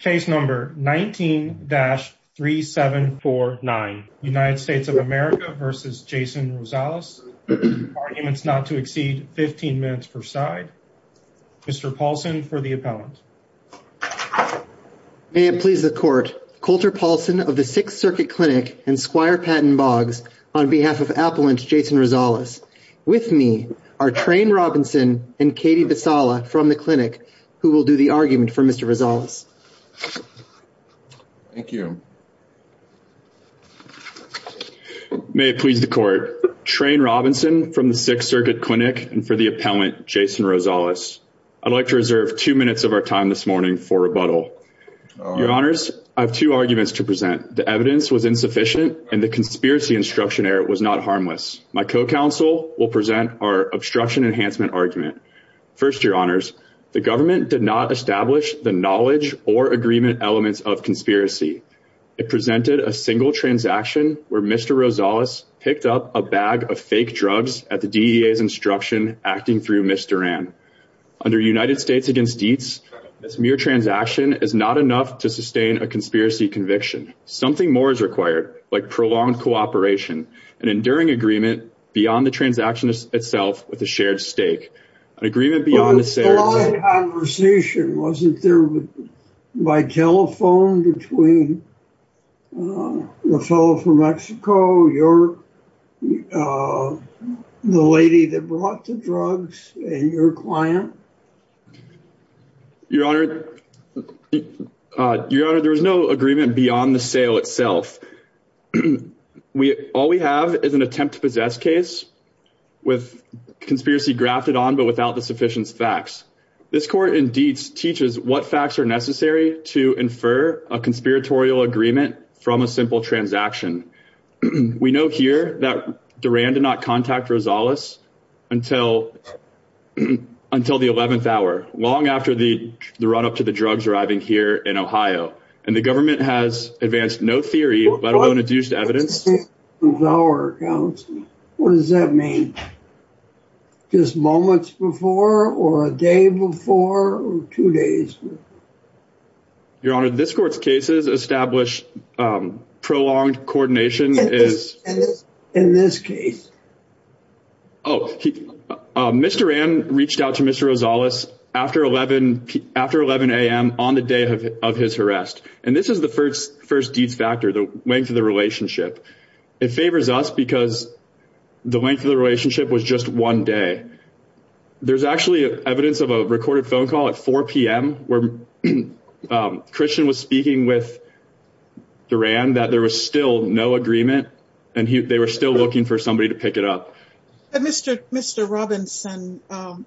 Case number 19-3749 United States of America v. Jason Rosales Arguments not to exceed 15 minutes per side Mr. Paulson for the appellant May it please the court, Colter Paulson of the Sixth Circuit Clinic and Squire Patton Boggs on behalf of Appellant Jason Rosales With me are Trane Robinson and Katie Visala from the clinic who will do the argument for Mr. Rosales Thank you May it please the court, Trane Robinson from the Sixth Circuit Clinic and for the appellant Jason Rosales I'd like to reserve two minutes of our time this morning for rebuttal Your honors, I have two arguments to present The evidence was insufficient and the conspiracy instruction error was not harmless My co-counsel will present our obstruction enhancement argument First, your honors, the government did not establish the knowledge or agreement elements of conspiracy It presented a single transaction where Mr. Rosales picked up a bag of fake drugs at the DEA's instruction acting through Ms. Duran Under United States v. Dietz, this mere transaction is not enough to sustain a conspiracy conviction Secondly, something more is required, like prolonged cooperation An enduring agreement beyond the transaction itself with a shared stake An agreement beyond the shares It was a long conversation, wasn't there? By telephone between the fellow from Mexico, the lady that brought the drugs, and your client? Your honor, there was no agreement beyond the sale itself All we have is an attempt to possess case with conspiracy grafted on but without the sufficient facts This court in Dietz teaches what facts are necessary to infer a conspiratorial agreement from a simple transaction We know here that Duran did not contact Rosales until the 11th hour, long after the run-up to the drugs arriving here in Ohio And the government has advanced no theory, let alone adduced evidence What does that mean? Just moments before, or a day before, or two days before? Your honor, this court's cases establish prolonged coordination In this case? Mr. Ann reached out to Mr. Rosales after 11am on the day of his arrest And this is the first Dietz factor, the length of the relationship It favors us because the length of the relationship was just one day There's actually evidence of a recorded phone call at 4pm Christian was speaking with Duran that there was still no agreement And they were still looking for somebody to pick it up Mr. Robinson,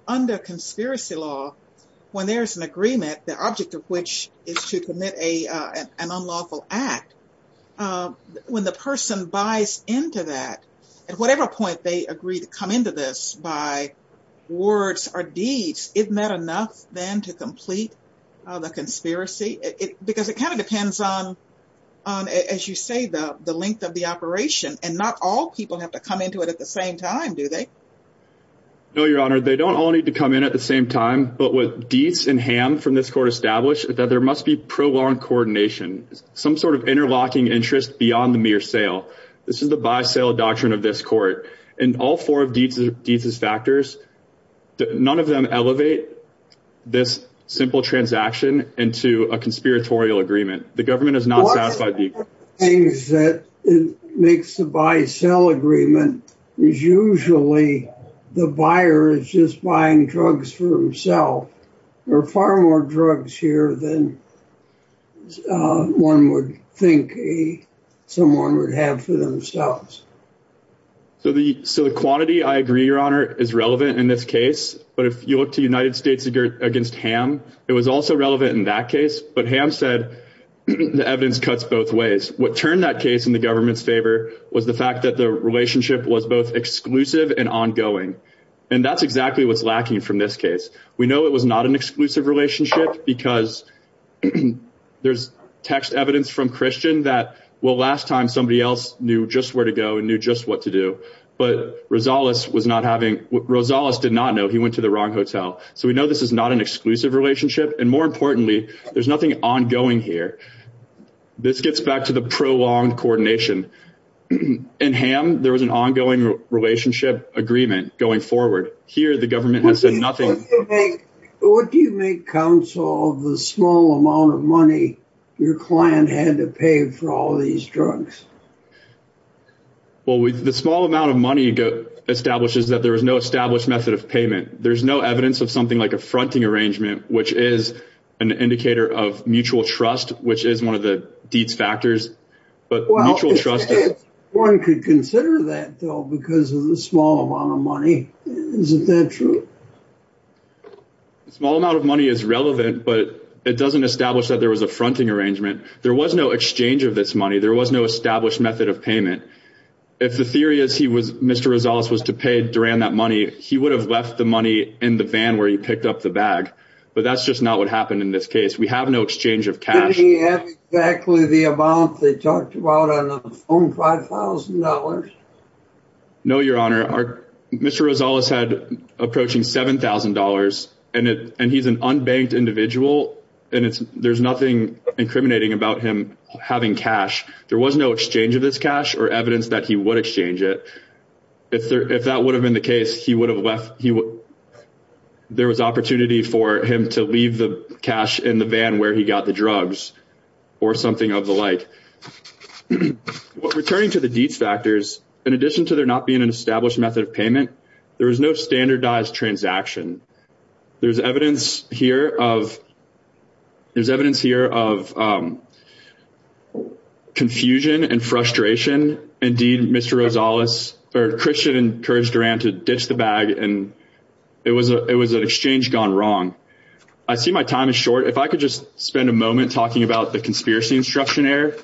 under conspiracy law, when there's an agreement, the object of which is to commit an unlawful act When the person buys into that, at whatever point they agree to come into this by words or deeds Isn't that enough then to complete the conspiracy? Because it kind of depends on, as you say, the length of the operation And not all people have to come into it at the same time, do they? No, your honor, they don't all need to come in at the same time But what Dietz and Hamm from this court established is that there must be prolonged coordination Some sort of interlocking interest beyond the mere sale This is the buy-sell doctrine of this court And all four of Dietz's factors, none of them elevate this simple transaction into a conspiratorial agreement The government is not satisfied One of the things that makes the buy-sell agreement is usually the buyer is just buying drugs for himself There are far more drugs here than one would think someone would have for themselves So the quantity, I agree, your honor, is relevant in this case But if you look to United States against Hamm, it was also relevant in that case But Hamm said the evidence cuts both ways What turned that case in the government's favor was the fact that the relationship was both exclusive and ongoing And that's exactly what's lacking from this case We know it was not an exclusive relationship because there's text evidence from Christian That, well, last time somebody else knew just where to go and knew just what to do But Rosales did not know, he went to the wrong hotel So we know this is not an exclusive relationship And more importantly, there's nothing ongoing here This gets back to the prolonged coordination In Hamm, there was an ongoing relationship agreement going forward But here the government has said nothing What do you make counsel of the small amount of money your client had to pay for all these drugs? Well, the small amount of money establishes that there was no established method of payment There's no evidence of something like a fronting arrangement, which is an indicator of mutual trust Which is one of the deeds factors Well, one could consider that though, because of the small amount of money Isn't that true? The small amount of money is relevant, but it doesn't establish that there was a fronting arrangement There was no exchange of this money, there was no established method of payment If the theory is Mr. Rosales was to pay Duran that money He would have left the money in the van where he picked up the bag But that's just not what happened in this case We have no exchange of cash Didn't he have exactly the amount they talked about on the phone, $5,000? No, your honor, Mr. Rosales had approaching $7,000 And he's an unbanked individual, and there's nothing incriminating about him having cash There was no exchange of this cash or evidence that he would exchange it If that would have been the case, he would have left There was opportunity for him to leave the cash in the van where he got the drugs Or something of the like Returning to the deeds factors, in addition to there not being an established method of payment There was no standardized transaction There's evidence here of confusion and frustration Christian encouraged Duran to ditch the bag It was an exchange gone wrong I see my time is short, if I could just spend a moment talking about the conspiracy instruction error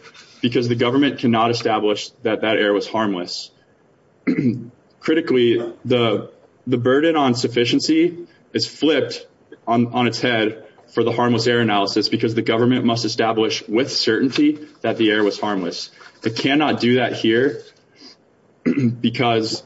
Because the government cannot establish that that error was harmless Critically, the burden on sufficiency is flipped on its head for the harmless error analysis Because the government must establish with certainty that the error was harmless It cannot do that here because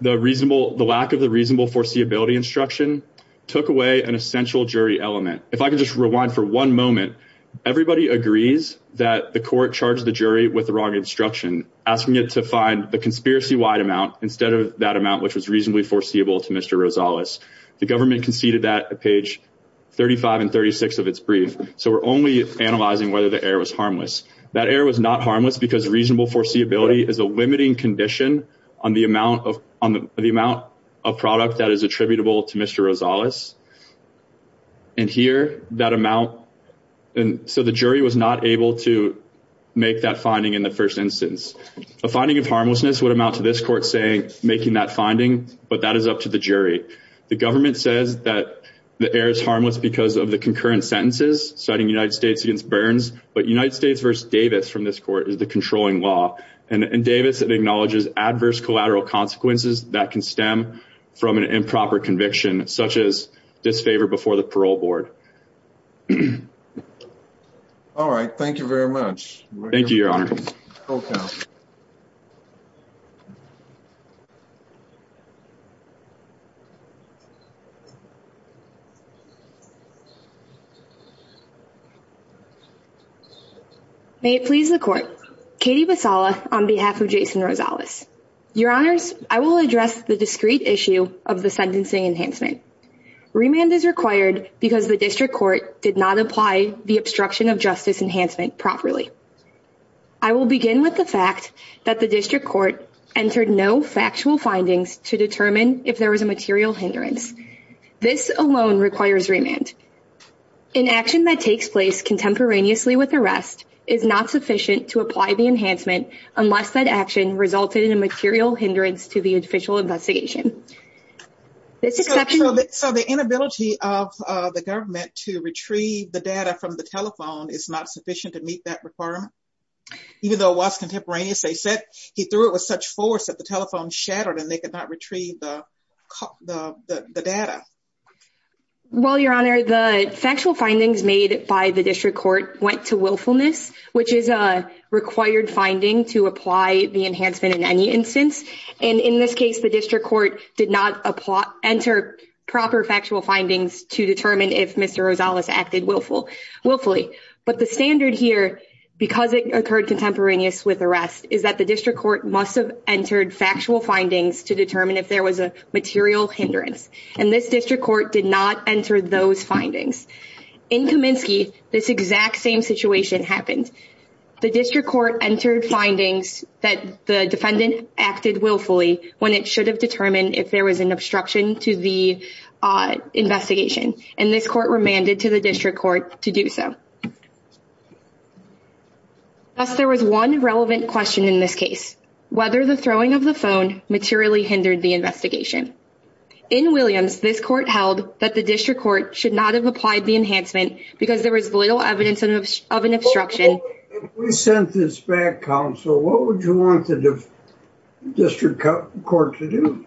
the lack of the reasonable foreseeability instruction Took away an essential jury element If I could just rewind for one moment Everybody agrees that the court charged the jury with the wrong instruction Asking it to find the conspiracy-wide amount instead of that amount which was reasonably foreseeable to Mr. Rosales The government conceded that at page 35 and 36 of its brief So we're only analyzing whether the error was harmless That error was not harmless because reasonable foreseeability is a limiting condition On the amount of product that is attributable to Mr. Rosales And here that amount And so the jury was not able to make that finding in the first instance A finding of harmlessness would amount to this court saying making that finding But that is up to the jury The government says that the error is harmless because of the concurrent sentences But United States v. Davis from this court is the controlling law And Davis acknowledges adverse collateral consequences that can stem from an improper conviction Such as disfavor before the parole board All right, thank you very much Thank you, Your Honor May it please the court Katie Vasala on behalf of Jason Rosales Your Honors, I will address the discrete issue of the sentencing enhancement Remand is required because the district court did not apply the obstruction of justice enhancement properly I will begin with the fact that the district court Entered no factual findings to determine if there was a material hindrance This alone requires remand An action that takes place contemporaneously with arrest Is not sufficient to apply the enhancement Unless that action resulted in a material hindrance to the official investigation So the inability of the government to retrieve the data from the telephone Is not sufficient to meet that requirement Even though it was contemporaneous They said he threw it with such force that the telephone shattered And they could not retrieve the data Well, Your Honor, the factual findings made by the district court went to willfulness Which is a required finding to apply the enhancement in any instance And in this case, the district court did not enter proper factual findings To determine if Mr. Rosales acted willfully But the standard here, because it occurred contemporaneous with arrest Is that the district court must have entered factual findings To determine if there was a material hindrance And this district court did not enter those findings In Kaminsky, this exact same situation happened The district court entered findings that the defendant acted willfully When it should have determined if there was an obstruction to the investigation And this court remanded to the district court to do so Thus, there was one relevant question in this case Whether the throwing of the phone materially hindered the investigation In Williams, this court held that the district court should not have applied the enhancement Because there was little evidence of an obstruction If we sent this back, counsel, what would you want the district court to do?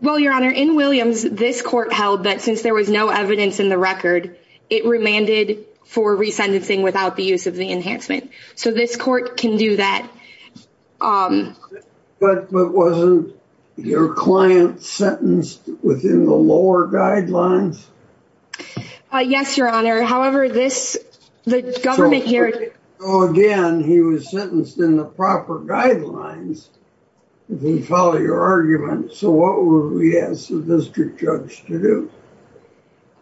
Well, Your Honor, in Williams, this court held that since there was no evidence in the record It remanded for re-sentencing without the use of the enhancement So this court can do that But wasn't your client sentenced within the lower guidelines? Yes, Your Honor, however, this, the government here So, again, he was sentenced in the proper guidelines If we follow your argument, so what would we ask the district judge to do?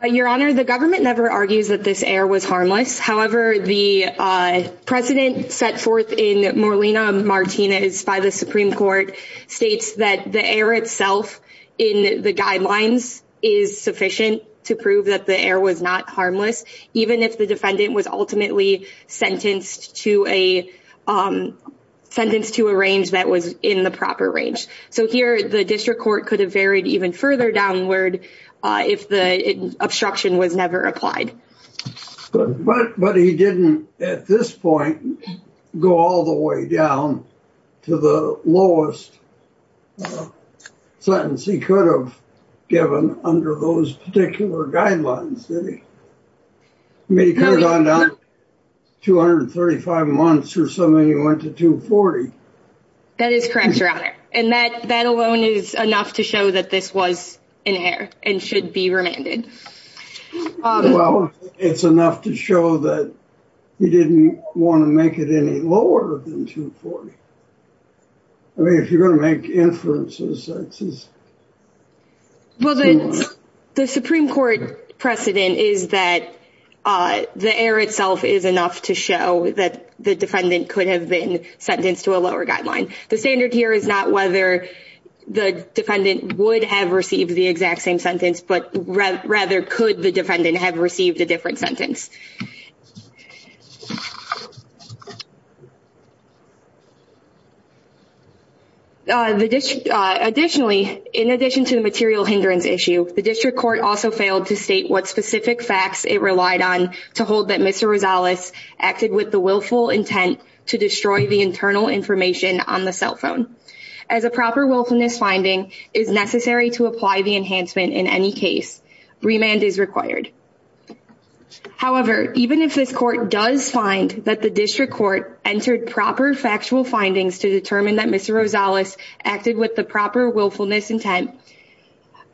Your Honor, the government never argues that this error was harmless However, the precedent set forth in Morlina-Martinez by the Supreme Court States that the error itself in the guidelines is sufficient to prove that the error was not harmless Even if the defendant was ultimately sentenced to a range that was in the proper range So here, the district court could have varied even further downward If the obstruction was never applied But he didn't, at this point, go all the way down to the lowest sentence he could have given Under those particular guidelines I mean, he could have gone down 235 months or something, he went to 240 That is correct, Your Honor And that alone is enough to show that this was in error and should be remanded Well, it's enough to show that he didn't want to make it any lower than 240 I mean, if you're going to make inferences, that's just Well, the Supreme Court precedent is that the error itself is enough to show that The defendant could have been sentenced to a lower guideline The standard here is not whether the defendant would have received the exact same sentence But rather, could the defendant have received a different sentence Additionally, in addition to the material hindrance issue The district court also failed to state what specific facts it relied on To hold that Mr. Rosales acted with the willful intent to destroy the internal information on the cell phone As a proper willfulness finding is necessary to apply the enhancement in any case Remand is required However, even if this court does find that the district court entered proper factual findings To determine that Mr. Rosales acted with the proper willfulness intent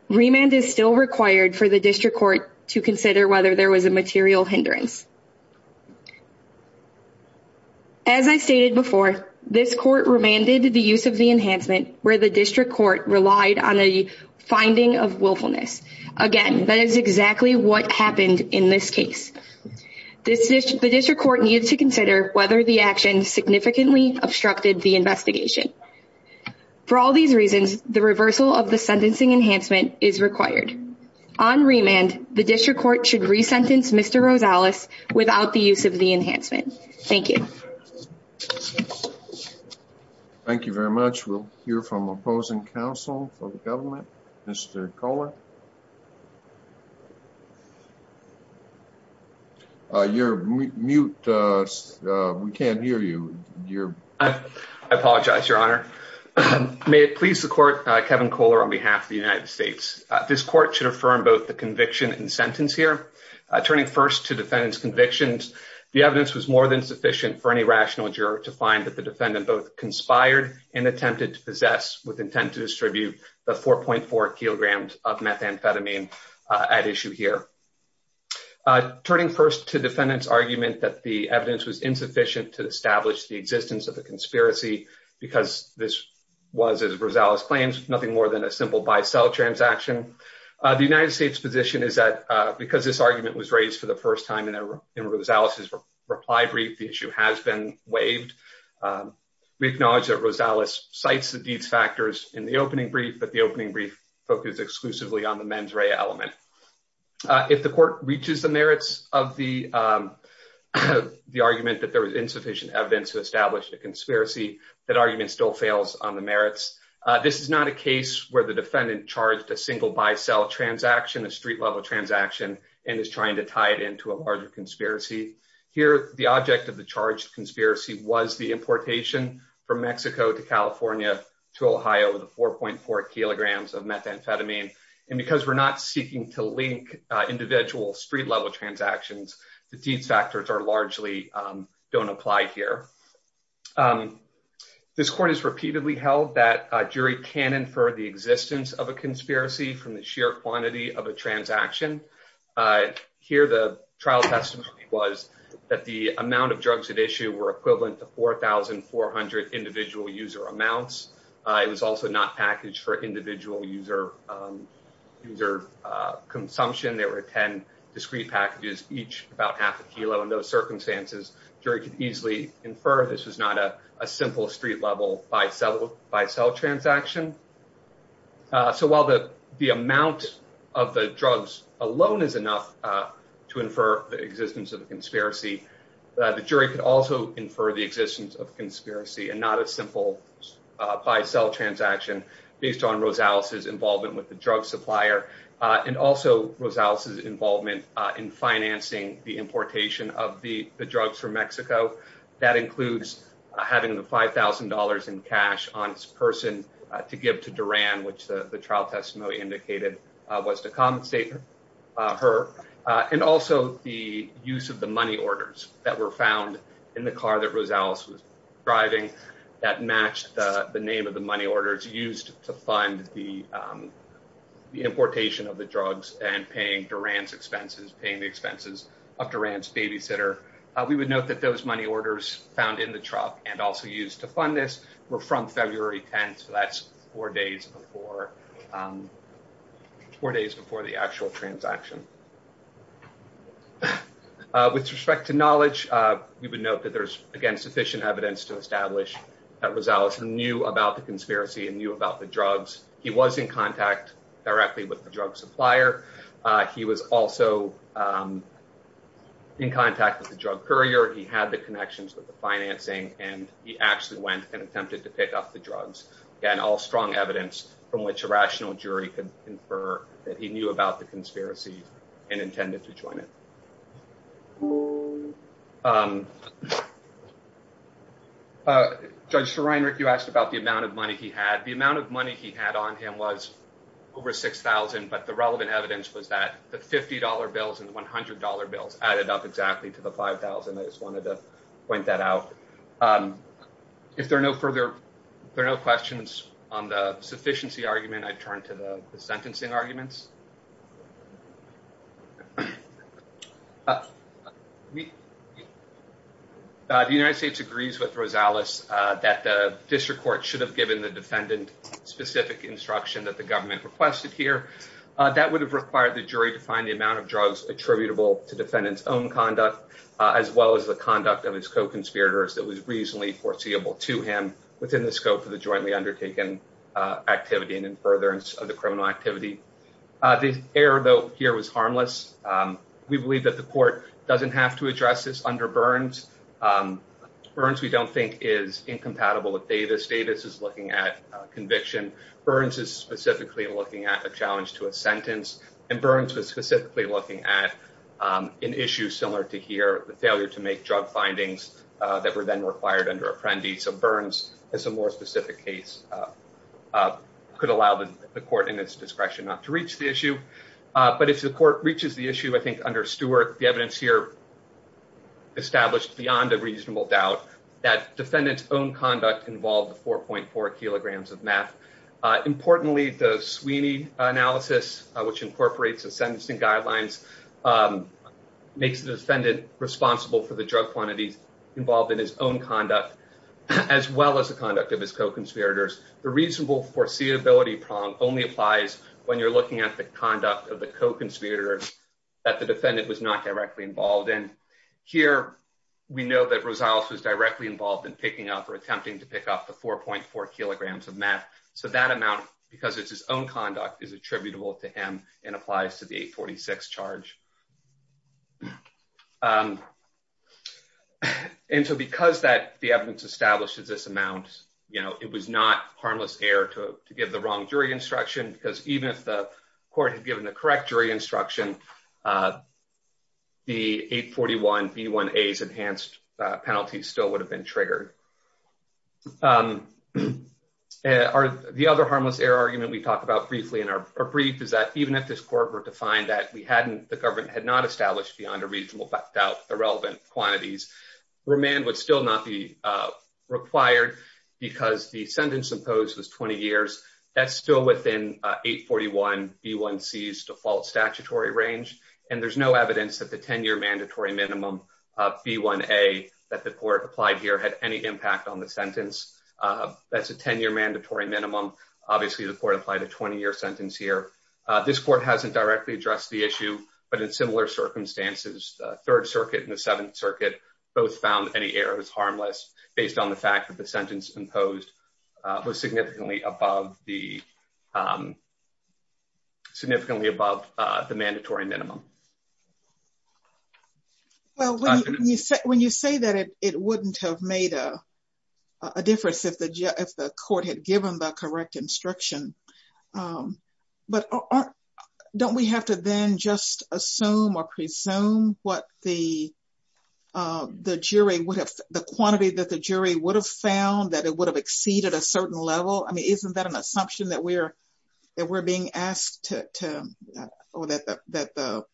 Remand is still required for the district court to consider whether there was a material hindrance As I stated before, this court remanded the use of the enhancement Where the district court relied on a finding of willfulness Again, that is exactly what happened in this case The district court needed to consider whether the action significantly obstructed the investigation For all these reasons, the reversal of the sentencing enhancement is required On remand, the district court should re-sentence Mr. Rosales without the use of the enhancement Thank you Thank you very much We'll hear from opposing counsel for the government Mr. Kohler You're mute We can't hear you I apologize, your honor May it please the court, Kevin Kohler on behalf of the United States This court should affirm both the conviction and sentence here Turning first to defendant's convictions The evidence was more than sufficient for any rational juror to find that the defendant both conspired And attempted to possess with intent to distribute the 4.4 kilograms of methamphetamine at issue here Turning first to defendant's argument that the evidence was insufficient to establish the existence of the conspiracy Because this was, as Rosales claims, nothing more than a simple buy-sell transaction The United States' position is that because this argument was raised for the first time in Rosales' reply brief The issue has been waived We acknowledge that Rosales cites the deeds factors in the opening brief But the opening brief focused exclusively on the mens rea element If the court reaches the merits of the argument that there was insufficient evidence to establish a conspiracy That argument still fails on the merits This is not a case where the defendant charged a single buy-sell transaction, a street-level transaction And is trying to tie it into a larger conspiracy Here, the object of the charged conspiracy was the importation from Mexico to California to Ohio The 4.4 kilograms of methamphetamine And because we're not seeking to link individual street-level transactions The deeds factors largely don't apply here This court has repeatedly held that a jury can infer the existence of a conspiracy from the sheer quantity of a transaction Here, the trial testimony was that the amount of drugs at issue were equivalent to 4,400 individual user amounts It was also not packaged for individual user consumption There were 10 discrete packages, each about half a kilo In those circumstances, jury could easily infer this was not a simple street-level buy-sell transaction So while the amount of the drugs alone is enough to infer the existence of a conspiracy The jury could also infer the existence of a conspiracy and not a simple buy-sell transaction Based on Rosales' involvement with the drug supplier And also Rosales' involvement in financing the importation of the drugs from Mexico That includes having the $5,000 in cash on its person to give to Duran Which the trial testimony indicated was to compensate her And also the use of the money orders that were found in the car that Rosales was driving That matched the name of the money orders used to fund the importation of the drugs And paying Duran's expenses, paying the expenses of Duran's babysitter We would note that those money orders found in the truck and also used to fund this were from February 10th So that's four days before the actual transaction With respect to knowledge, we would note that there's sufficient evidence to establish That Rosales knew about the conspiracy and knew about the drugs He was in contact directly with the drug supplier He was also in contact with the drug courier He had the connections with the financing And he actually went and attempted to pick up the drugs Again, all strong evidence from which a rational jury could infer That he knew about the conspiracy and intended to join it Judge Sreinrich, you asked about the amount of money he had The amount of money he had on him was over $6,000 But the relevant evidence was that the $50 bills and the $100 bills added up exactly to the $5,000 I just wanted to point that out If there are no questions on the sufficiency argument, I turn to the sentencing arguments The United States agrees with Rosales that the district court should have given the defendant Specific instruction that the government requested here That would have required the jury to find the amount of drugs attributable to defendant's own conduct As well as the conduct of his co-conspirators that was reasonably foreseeable to him Within the scope of the jointly undertaken activity and in furtherance of the criminal activity The error here was harmless We believe that the court doesn't have to address this under Burns Burns we don't think is incompatible with Davis Davis is looking at conviction Burns is specifically looking at a challenge to a sentence And Burns was specifically looking at an issue similar to here The failure to make drug findings that were then required under Apprendi So Burns has a more specific case Could allow the court in its discretion not to reach the issue But if the court reaches the issue, I think under Stewart The evidence here established beyond a reasonable doubt That defendant's own conduct involved 4.4 kilograms of meth Importantly, the Sweeney analysis Which incorporates the sentencing guidelines Makes the defendant responsible for the drug quantities involved in his own conduct As well as the conduct of his co-conspirators The reasonable foreseeability problem only applies when you're looking at the conduct of the co-conspirators That the defendant was not directly involved in Here we know that Rosales was directly involved in picking up For attempting to pick up the 4.4 kilograms of meth So that amount, because it's his own conduct, is attributable to him And applies to the 846 charge And so because the evidence establishes this amount It was not harmless error to give the wrong jury instruction Because even if the court had given the correct jury instruction The 841B1A's enhanced penalty still would have been triggered The other harmless error argument we talked about briefly Is that even if this court were to find that the government had not established Beyond a reasonable doubt the relevant quantities Remand would still not be required Because the sentence imposed was 20 years That's still within 841B1C's default statutory range And there's no evidence that the 10-year mandatory minimum B1A that the court applied here had any impact on the sentence That's a 10-year mandatory minimum Obviously the court applied a 20-year sentence here This court hasn't directly addressed the issue But in similar circumstances, the Third Circuit and the Seventh Circuit Both found any errors harmless Based on the fact that the sentence imposed Was significantly above the mandatory minimum When you say that it wouldn't have made a difference If the court had given the correct instruction Don't we have to then just assume or presume What the quantity that the jury would have found That it would have exceeded a certain level Isn't that an assumption that we're being asked Or that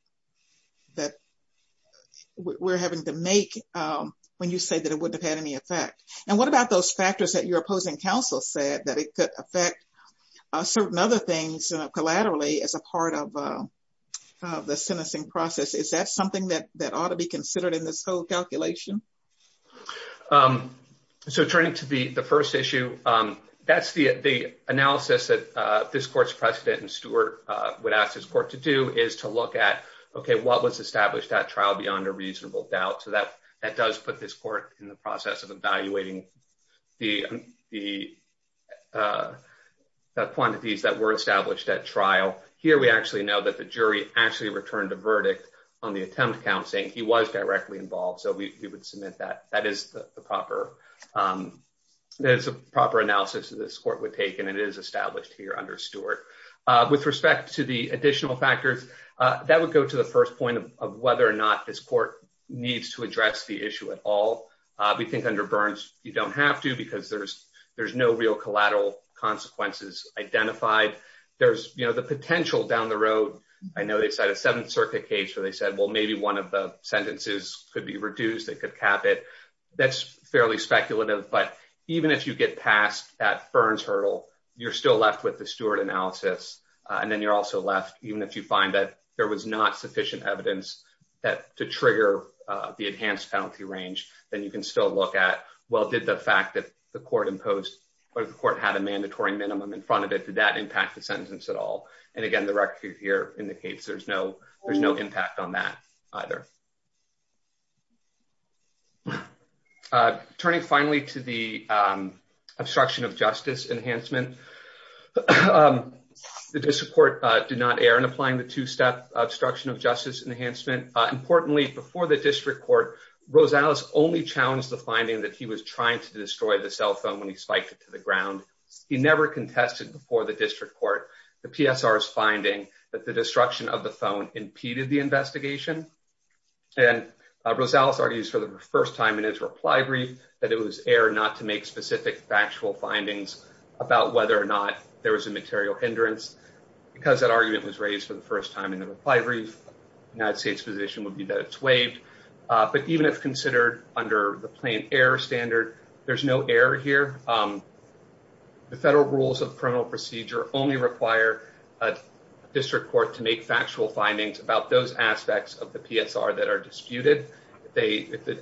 we're having to make When you say that it wouldn't have had any effect And what about those factors that your opposing counsel said That it could affect certain other things Collaterally as a part of the sentencing process Is that something that ought to be considered In this whole calculation? So turning to the first issue That's the analysis that this court's precedent and Stewart Would ask this court to do Is to look at what was established at trial Beyond a reasonable doubt So that does put this court in the process of evaluating The quantities that were established at trial Here we actually know that the jury actually returned a verdict On the attempt count saying he was directly involved So we would submit that That is the proper analysis that this court would take And it is established here under Stewart With respect to the additional factors That would go to the first point of whether or not This court needs to address the issue at all We think under Burns you don't have to Because there's no real collateral consequences identified There's the potential down the road I know they set a Seventh Circuit case where they said Well maybe one of the sentences could be reduced They could cap it That's fairly speculative But even if you get past that Burns hurdle You're still left with the Stewart analysis And then you're also left Even if you find that there was not sufficient evidence To trigger the enhanced penalty range Then you can still look at Well did the fact that the court imposed Or the court had a mandatory minimum in front of it Did that impact the sentence at all? And again the record here indicates There's no impact on that either Turning finally to the obstruction of justice enhancement The district court did not err in applying The two-step obstruction of justice enhancement Importantly before the district court Rosales only challenged the finding That he was trying to destroy the cell phone When he spiked it to the ground He never contested before the district court The PSR's finding that the destruction of the phone Impeded the investigation And Rosales argues for the first time in his reply brief That it was error not to make specific factual findings About whether or not there was a material hindrance Because that argument was raised for the first time In the reply brief The United States position would be that it's waived But even if considered under the plain error standard There's no error here The federal rules of criminal procedure Only require a district court to make factual findings About those aspects of the PSR that are disputed If the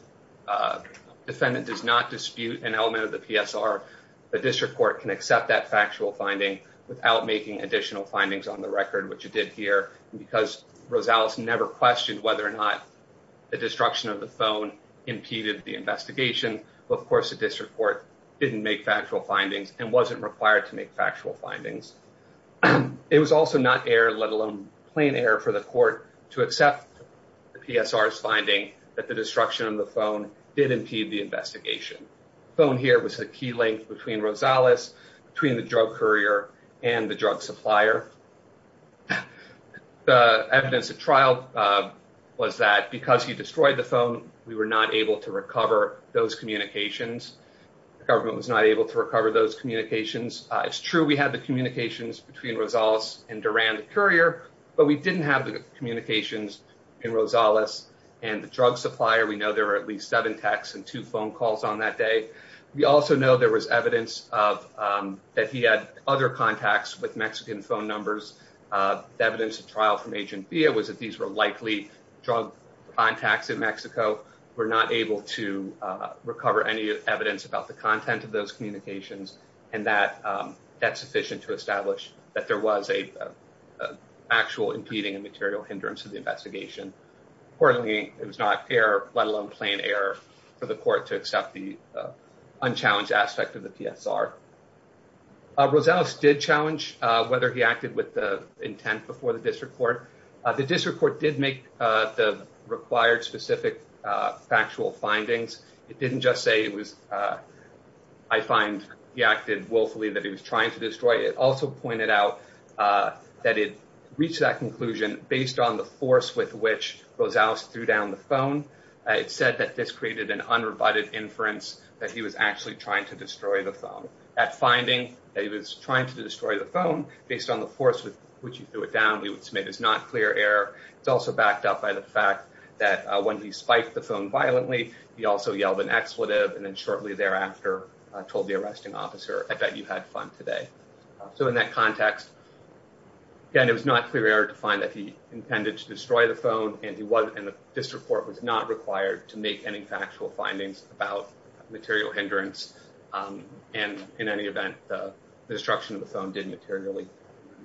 defendant does not dispute an element of the PSR The district court can accept that factual finding Without making additional findings on the record Which it did here Because Rosales never questioned whether or not The destruction of the phone impeded the investigation Of course the district court didn't make factual findings And wasn't required to make factual findings It was also not error, let alone plain error For the court to accept the PSR's finding That the destruction of the phone did impede the investigation The phone here was the key link between Rosales Between the drug courier and the drug supplier The evidence at trial was that Because he destroyed the phone We were not able to recover those communications The government was not able to recover those communications It's true we had the communications Between Rosales and Duran the courier But we didn't have the communications in Rosales And the drug supplier We know there were at least seven texts And two phone calls on that day We also know there was evidence That he had other contacts with Mexican phone numbers The evidence at trial from Agent Villa Was that these were likely drug contacts in Mexico We're not able to recover any evidence About the content of those communications And that's sufficient to establish That there was an actual impeding And material hindrance to the investigation Accordingly, it was not error, let alone plain error For the court to accept the unchallenged aspect of the PSR Rosales did challenge Whether he acted with intent before the district court The district court did make the required Specific factual findings It didn't just say it was I find he acted willfully that he was trying to destroy It also pointed out that it reached that conclusion Based on the force with which Rosales threw down the phone It said that this created an unrebutted inference That he was actually trying to destroy the phone That finding that he was trying to destroy the phone Based on the force with which he threw it down We would submit as not clear error It's also backed up by the fact that when he spiked the phone violently He also yelled an expletive and then shortly thereafter Told the arresting officer, I bet you had fun today So in that context, again, it was not clear error To find that he intended to destroy the phone And the district court was not required To make any factual findings about material hindrance And in any event, the destruction of the phone Did materially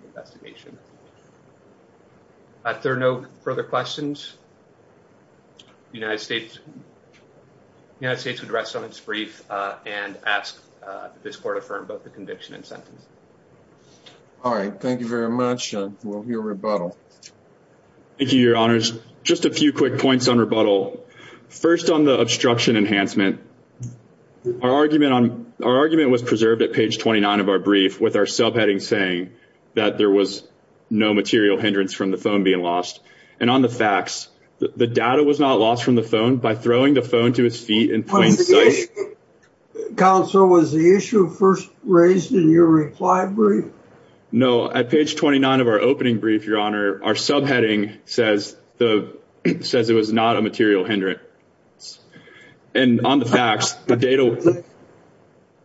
investigation If there are no further questions United States United States would rest on its brief and ask This court affirmed both the conviction and sentence All right. Thank you very much. We'll hear rebuttal Thank you, your honors Just a few quick points on rebuttal First on the obstruction enhancement Our argument Our argument was preserved at page 29 of our brief With our subheading saying that there was no material hindrance From the phone being lost And on the facts, the data was not lost from the phone By throwing the phone to his feet in plain sight Counsel, was the issue first raised in your reply brief? No, at page 29 of our opening brief, your honor Our subheading says Says it was not a material hindrance And on the facts, the data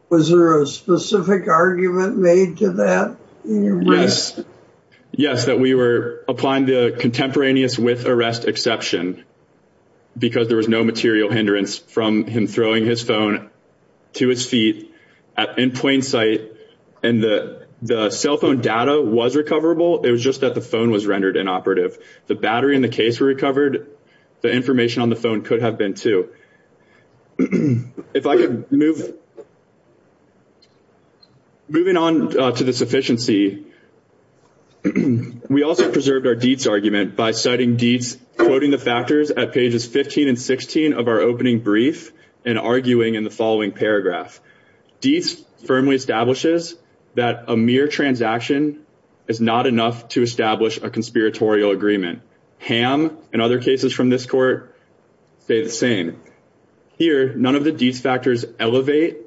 Was there a specific argument made to that? Yes Yes, that we were applying the contemporaneous with arrest exception Because there was no material hindrance From him throwing his phone to his feet In plain sight And the cell phone data was recoverable It was just that the phone was rendered inoperative The battery in the case was recovered The information on the phone could have been too If I could move Moving on to the sufficiency We also preserved our deeds argument by citing deeds Quoting the factors at pages 15 and 16 of our opening brief And arguing in the following paragraph Deeds firmly establishes That a mere transaction is not enough To establish a conspiratorial agreement Ham and other cases from this court say the same Here, none of the deeds factors elevate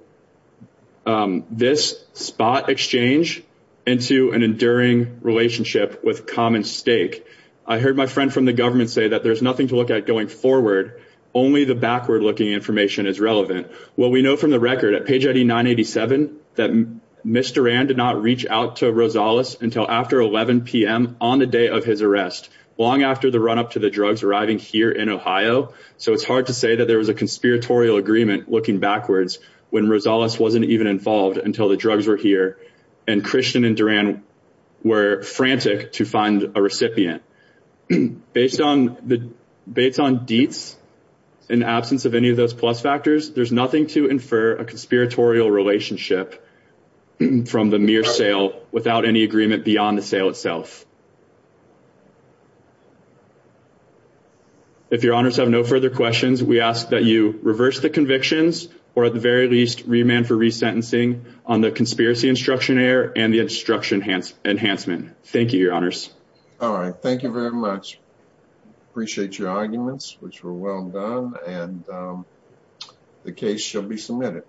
This spot exchange Into an enduring relationship With common stake I heard my friend from the government say that there's nothing to look at going forward Only the backward looking information is relevant Well, we know from the record at page ID 987 That Ms. Duran did not reach out to Rosales Until after 11 p.m. on the day of his arrest Long after the run up to the drugs arriving here in Ohio So it's hard to say that there was a conspiratorial agreement Looking backwards when Rosales wasn't even involved Until the drugs were here and Christian and Duran Were frantic to find a recipient Based on deeds In the absence of any of those plus factors There's nothing to infer a conspiratorial relationship From the mere sale without any agreement Beyond the sale itself If your honors have no further questions We ask that you reverse the convictions Or at the very least remand for resentencing On the conspiracy instruction air and the instruction enhancement Thank you, your honors All right, thank you very much Appreciate your arguments, which were well done And the case shall be submitted